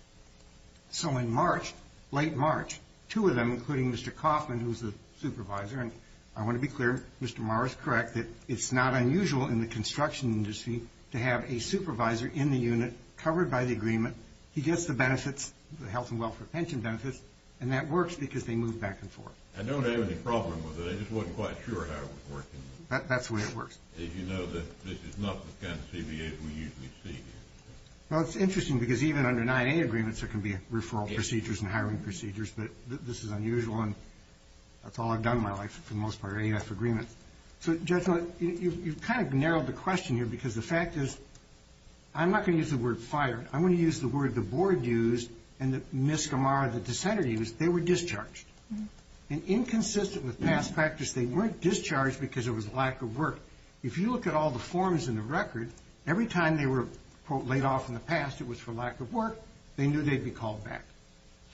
So in March, late March, two of them, including Mr. Kaufman, who's the supervisor, and I want to be clear, Mr. Maurer is correct, that it's not unusual in the construction industry to have a supervisor in the unit covered by the agreement. He gets the benefits, the health and welfare pension benefits, and that works because they move back and forth. I don't have any problem with it. I just wasn't quite sure how it was working. That's the way it works. As you know, this is not the kind of CBAs we usually see here. Well, it's interesting because even under 9A agreements, there can be referral procedures and hiring procedures, but this is unusual, and that's all I've done in my life for the most part, AF agreements. So, Judge Millett, you've kind of narrowed the question here because the fact is I'm not going to use the word fired. I'm going to use the word the board used and Ms. Gamara, the dissenter, used. They were discharged. And inconsistent with past practice, they weren't discharged because it was lack of work. If you look at all the forms in the record, every time they were, quote, laid off in the past, it was for lack of work, they knew they'd be called back.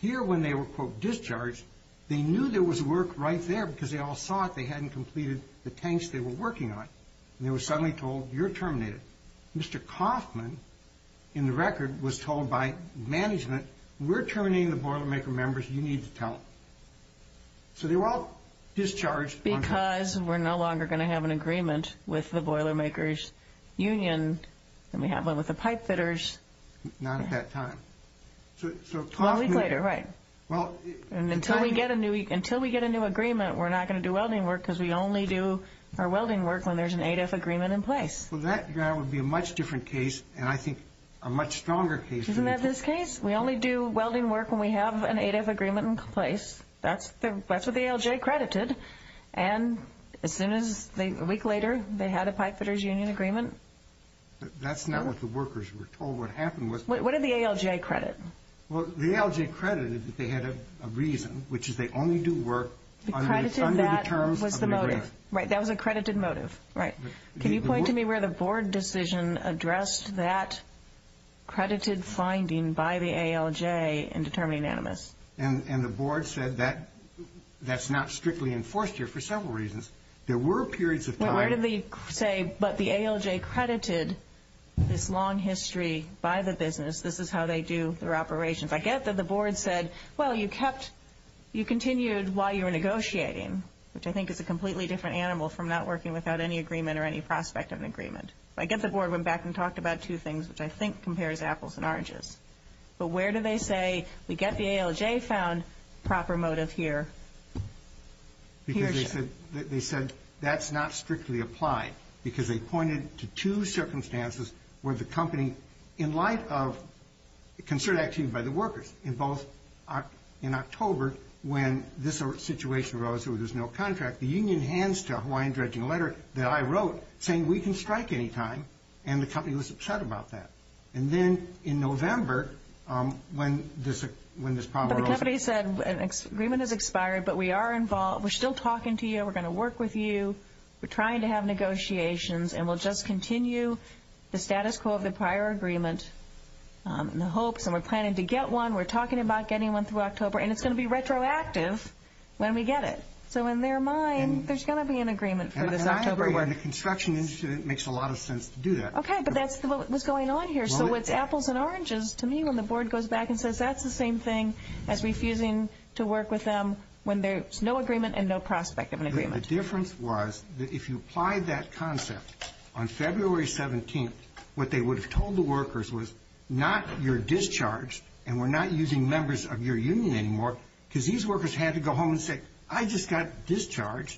Here, when they were, quote, discharged, they knew there was work right there because they all saw it. They hadn't completed the tanks they were working on, and they were suddenly told, you're terminated. Mr. Coffman, in the record, was told by management, we're terminating the Boilermaker members, you need to tell them. So they were all discharged on time. Because we're no longer going to have an agreement with the Boilermakers Union, and we have one with the pipe fitters. Not at that time. Well, a week later, right. And until we get a new agreement, we're not going to do welding work because we only do our welding work when there's an 8F agreement in place. Well, that would be a much different case, and I think a much stronger case. Isn't that this case? We only do welding work when we have an 8F agreement in place. That's what the ALJ credited. And as soon as they, a week later, they had a pipe fitters union agreement. That's not what the workers were told what happened. What did the ALJ credit? Well, the ALJ credited that they had a reason, which is they only do work under the terms of the agreement. Right, that was a credited motive. Right. Can you point to me where the board decision addressed that credited finding by the ALJ and determined it unanimous? And the board said that's not strictly enforced here for several reasons. There were periods of time. Well, where did they say, but the ALJ credited this long history by the business. This is how they do their operations. I get that the board said, well, you continued while you were negotiating, which I think is a completely different animal from not working without any agreement or any prospect of an agreement. I get the board went back and talked about two things, which I think compares apples and oranges. But where do they say, we get the ALJ found, proper motive here? Because they said that's not strictly applied because they pointed to two circumstances where the company, in light of concern actually by the workers, in both in October when this situation arose where there's no contract, the union hands to a Hawaiian dredging letter that I wrote saying we can strike any time, and the company was upset about that. And then in November when this problem arose. But the company said an agreement has expired, but we are involved. We're still talking to you. We're going to work with you. We're trying to have negotiations, and we'll just continue the status quo of the prior agreement and the hopes, and we're planning to get one. We're talking about getting one through October, and it's going to be retroactive when we get it. So in their mind, there's going to be an agreement for this October. And I agree. In the construction industry, it makes a lot of sense to do that. Okay, but that's what was going on here. So it's apples and oranges to me when the board goes back and says that's the same thing as refusing to work with them when there's no agreement and no prospect of an agreement. The difference was that if you applied that concept on February 17th, what they would have told the workers was not you're discharged, and we're not using members of your union anymore because these workers had to go home and say, I just got discharged.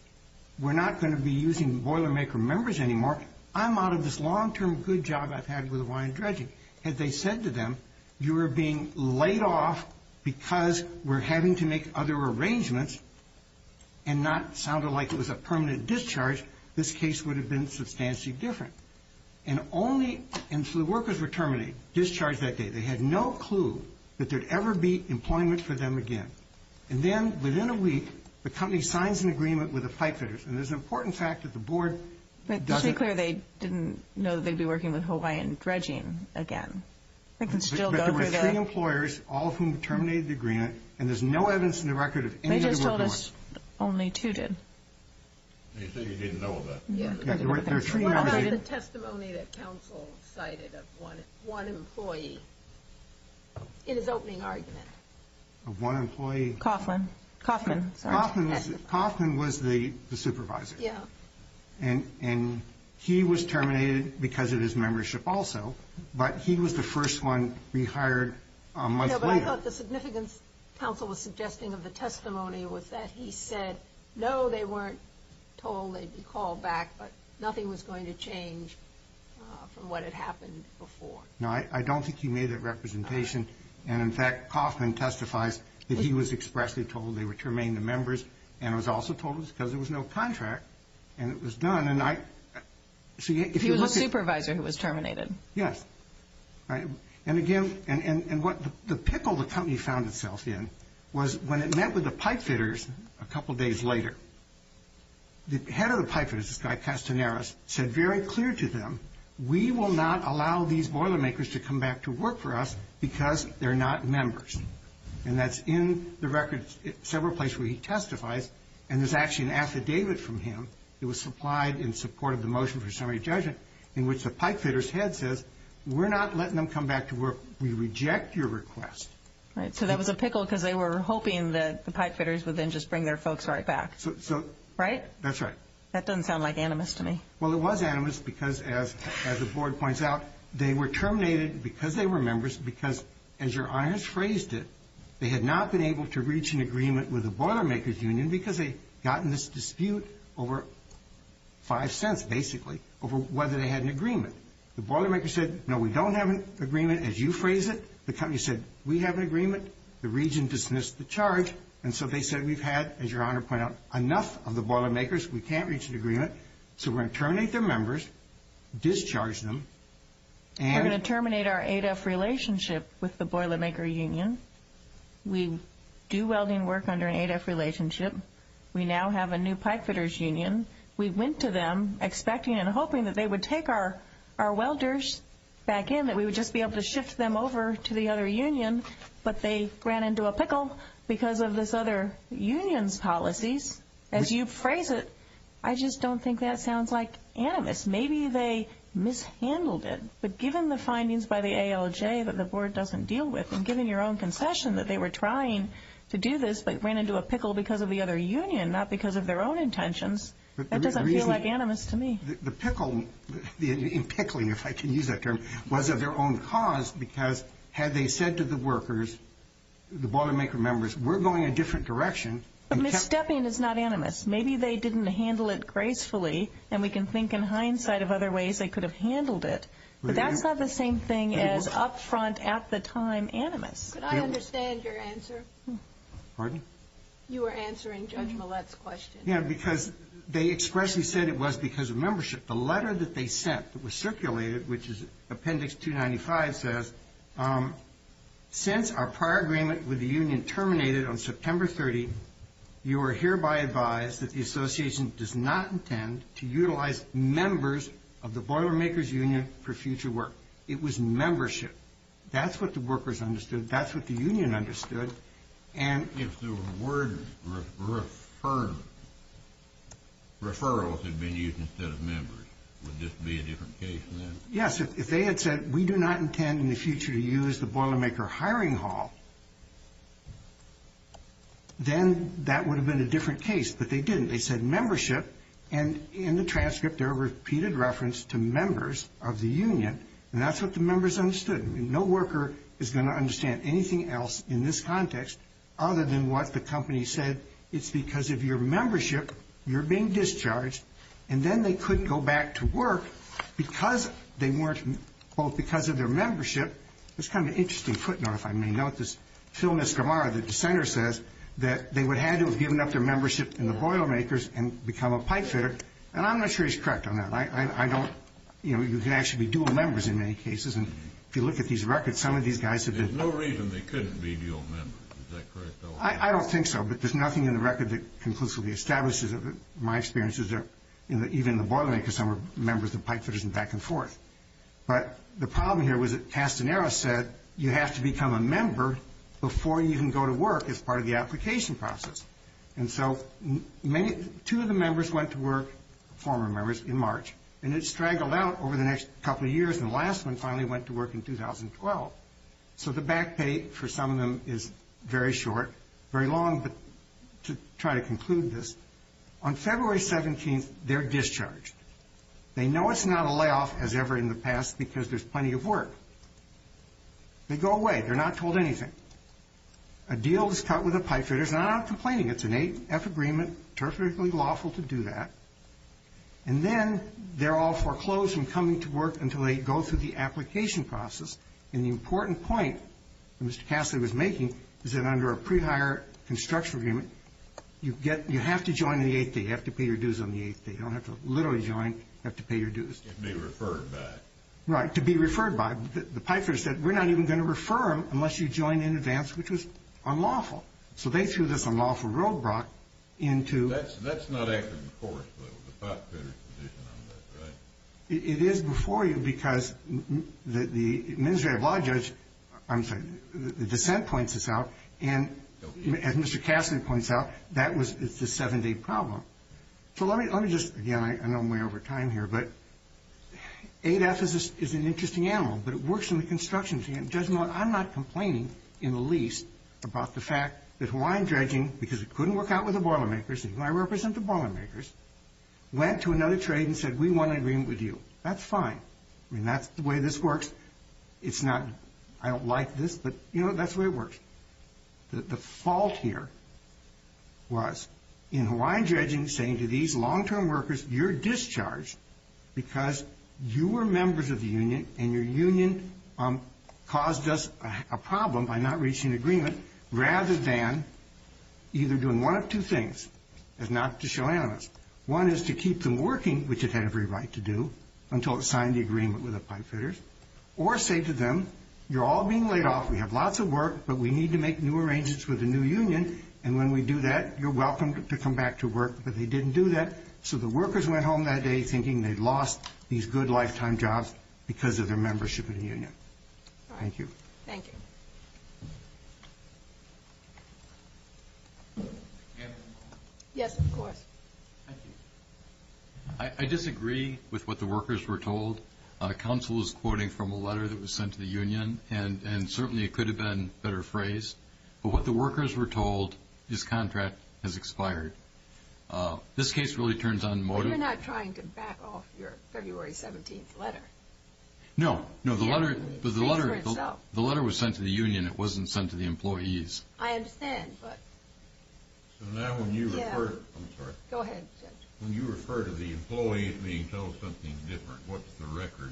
We're not going to be using Boilermaker members anymore. I'm out of this long-term good job I've had with Hawaiian Dredging. Had they said to them, you are being laid off because we're having to make other arrangements and not sounded like it was a permanent discharge, this case would have been substantially different. And only until the workers were terminated, discharged that day, they had no clue that there would ever be employment for them again. And then within a week, the company signs an agreement with the pipefitters, and there's an important fact that the board doesn't – Just to be clear, they didn't know they'd be working with Hawaiian Dredging again. They can still go through the – But there were three employers, all of whom terminated the agreement, and there's no evidence in the record of any of them – They just told us only two did. And you think they didn't know about that? What about the testimony that counsel cited of one employee in his opening argument? Of one employee? Coughlin. Coughlin. Coughlin was the supervisor. Yeah. And he was terminated because of his membership also, but he was the first one rehired a month later. No, but I thought the significance counsel was suggesting of the testimony was that he said, no, they weren't told they'd be called back, but nothing was going to change from what had happened before. No, I don't think he made that representation. And, in fact, Coughlin testifies that he was expressly told they were terminating the members and was also told it was because there was no contract and it was done. And I – He was the supervisor who was terminated. Yes. And again – and what the pickle the company found itself in was when it met with the pipefitters a couple days later, the head of the pipefitters, this guy Castaneras, said very clear to them, we will not allow these boilermakers to come back to work for us because they're not members. And that's in the records several places where he testifies, and there's actually an affidavit from him that was supplied in support of the motion for summary judgment in which the pipefitters' head says, we're not letting them come back to work. We reject your request. Right. So that was a pickle because they were hoping that the pipefitters would then just bring their folks right back. Right? That's right. That doesn't sound like animus to me. Well, it was animus because, as the board points out, they were terminated because they were members because, as your honors phrased it, they had not been able to reach an agreement with the boilermakers' union because they got in this dispute over five cents, basically, over whether they had an agreement. The boilermakers said, no, we don't have an agreement. As you phrase it, the company said, we have an agreement. The region dismissed the charge. And so they said, we've had, as your honor pointed out, enough of the boilermakers. We can't reach an agreement. So we're going to terminate their members, discharge them. We're going to terminate our ADEF relationship with the boilermaker union. We do welding work under an ADEF relationship. We now have a new pipefitters' union. We went to them expecting and hoping that they would take our welders back in, that we would just be able to shift them over to the other union. But they ran into a pickle because of this other union's policies. As you phrase it, I just don't think that sounds like animus. Maybe they mishandled it. But given the findings by the ALJ that the board doesn't deal with, and given your own concession that they were trying to do this but ran into a pickle because of the other union, not because of their own intentions, that doesn't feel like animus to me. The pickle in pickling, if I can use that term, was of their own cause because had they said to the workers, the boilermaker members, we're going a different direction. But misstepping is not animus. Maybe they didn't handle it gracefully, and we can think in hindsight of other ways they could have handled it. But that's not the same thing as up front at the time animus. Could I understand your answer? Pardon? You were answering Judge Millett's question. Because they expressly said it was because of membership. The letter that they sent that was circulated, which is Appendix 295, says, since our prior agreement with the union terminated on September 30th, you are hereby advised that the association does not intend to utilize members of the Boilermakers Union for future work. It was membership. That's what the workers understood. That's what the union understood. If the word referrals had been used instead of members, would this be a different case then? Yes. If they had said, we do not intend in the future to use the Boilermaker hiring hall, then that would have been a different case. But they didn't. They said membership. And in the transcript, there are repeated references to members of the union. And that's what the members understood. No worker is going to understand anything else in this context other than what the company said. It's because of your membership, you're being discharged. And then they couldn't go back to work because they weren't both because of their membership. It's kind of an interesting footnote, if I may note. This Phil Nisgramara, the dissenter, says that they would have had to have given up their membership in the Boilermakers and become a pipefitter. And I'm not sure he's correct on that. I don't, you know, you can actually be dual members in many cases. And if you look at these records, some of these guys have been. There's no reason they couldn't be dual members. Is that correct, though? I don't think so. But there's nothing in the record that conclusively establishes it. My experience is that even in the Boilermakers, some were members of pipefitters and back and forth. But the problem here was that Castanero said you have to become a member before you can go to work as part of the application process. And so two of the members went to work, former members, in March. And it straggled out over the next couple of years. And the last one finally went to work in 2012. So the back pay for some of them is very short, very long. But to try to conclude this, on February 17th, they're discharged. They know it's not a layoff as ever in the past because there's plenty of work. They go away. They're not told anything. A deal is cut with the pipefitters. And I'm not complaining. It's an AF agreement, perfectly lawful to do that. And then they're all foreclosed from coming to work until they go through the application process. And the important point that Mr. Cassidy was making is that under a pre-hire construction agreement, you have to join on the eighth day. You have to pay your dues on the eighth day. You don't have to literally join. You have to pay your dues. To be referred by. Right. To be referred by. The pipefitters said we're not even going to refer them unless you join in advance, which was unlawful. So they threw this unlawful roadblock into That's not after the court, though. The pipefitter's position on that, right? It is before you because the administrative law judge, I'm sorry, the dissent points this out. And as Mr. Cassidy points out, that was the seven-day problem. So let me just, again, I know I'm way over time here, but 8F is an interesting animal. But it works in the constructions. Judge Mullen, I'm not complaining in the least about the fact that Hawaiian Dredging, because it couldn't work out with the Boilermakers, and I represent the Boilermakers, went to another trade and said we want an agreement with you. That's fine. I mean, that's the way this works. It's not, I don't like this, but, you know, that's the way it works. The fault here was in Hawaiian Dredging saying to these long-term workers, you're discharged because you were members of the union and your union caused us a problem by not reaching an agreement rather than either doing one of two things is not to show animus. One is to keep them working, which it had every right to do until it signed the agreement with the pipefitters, or say to them, you're all being laid off, we have lots of work, but we need to make new arrangements with the new union, and when we do that, you're welcome to come back to work, but they didn't do that. So the workers went home that day thinking they'd lost these good lifetime jobs because of their membership in the union. Thank you. Thank you. Yes, of course. I disagree with what the workers were told. Counsel was quoting from a letter that was sent to the union, and certainly it could have been a better phrase, but what the workers were told is contract has expired. This case really turns on motive. But you're not trying to back off your February 17th letter. No. No, the letter was sent to the union. It wasn't sent to the employees. I understand, but... So now when you refer to the employees being told something different, what's the record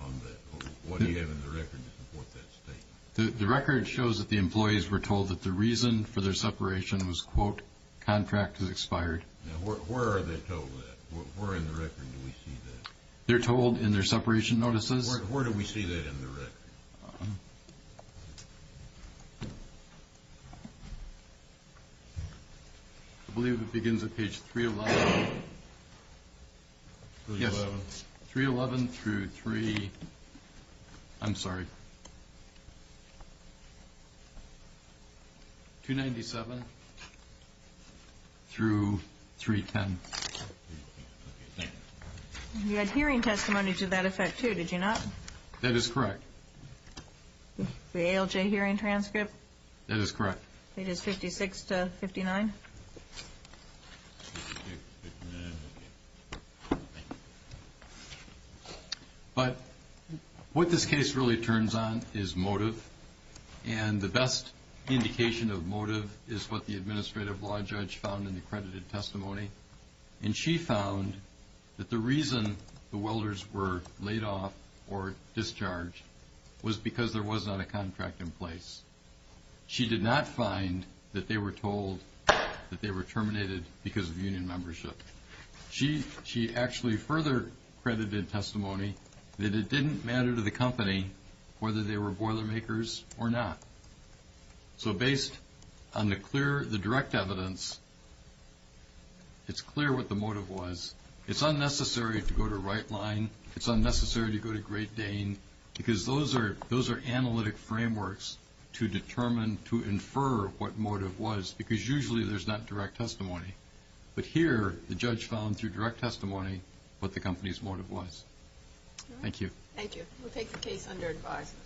on that? What do you have in the record to support that statement? The record shows that the employees were told that the reason for their separation was, quote, contract has expired. Now where are they told that? Where in the record do we see that? They're told in their separation notices. Where do we see that in the record? I believe it begins at page 311. 311. 311 through 3, I'm sorry, 297 through 310. Okay, thank you. You had hearing testimony to that effect too, did you not? That is correct. The ALJ hearing transcript? That is correct. It is 56 to 59? But what this case really turns on is motive, and the best indication of motive is what the administrative law judge found in the credited testimony, and she found that the reason the welders were laid off or discharged was because there was not a contract in place. She did not find that they were told that they were terminated because of union membership. She actually further credited testimony that it didn't matter to the company whether they were boiler makers or not. So based on the direct evidence, it's clear what the motive was. It's unnecessary to go to Rightline. It's unnecessary to go to Great Dane because those are analytic frameworks to determine, to infer what motive was because usually there's not direct testimony. But here the judge found through direct testimony what the company's motive was. Thank you. Thank you. We'll take the case under advisement.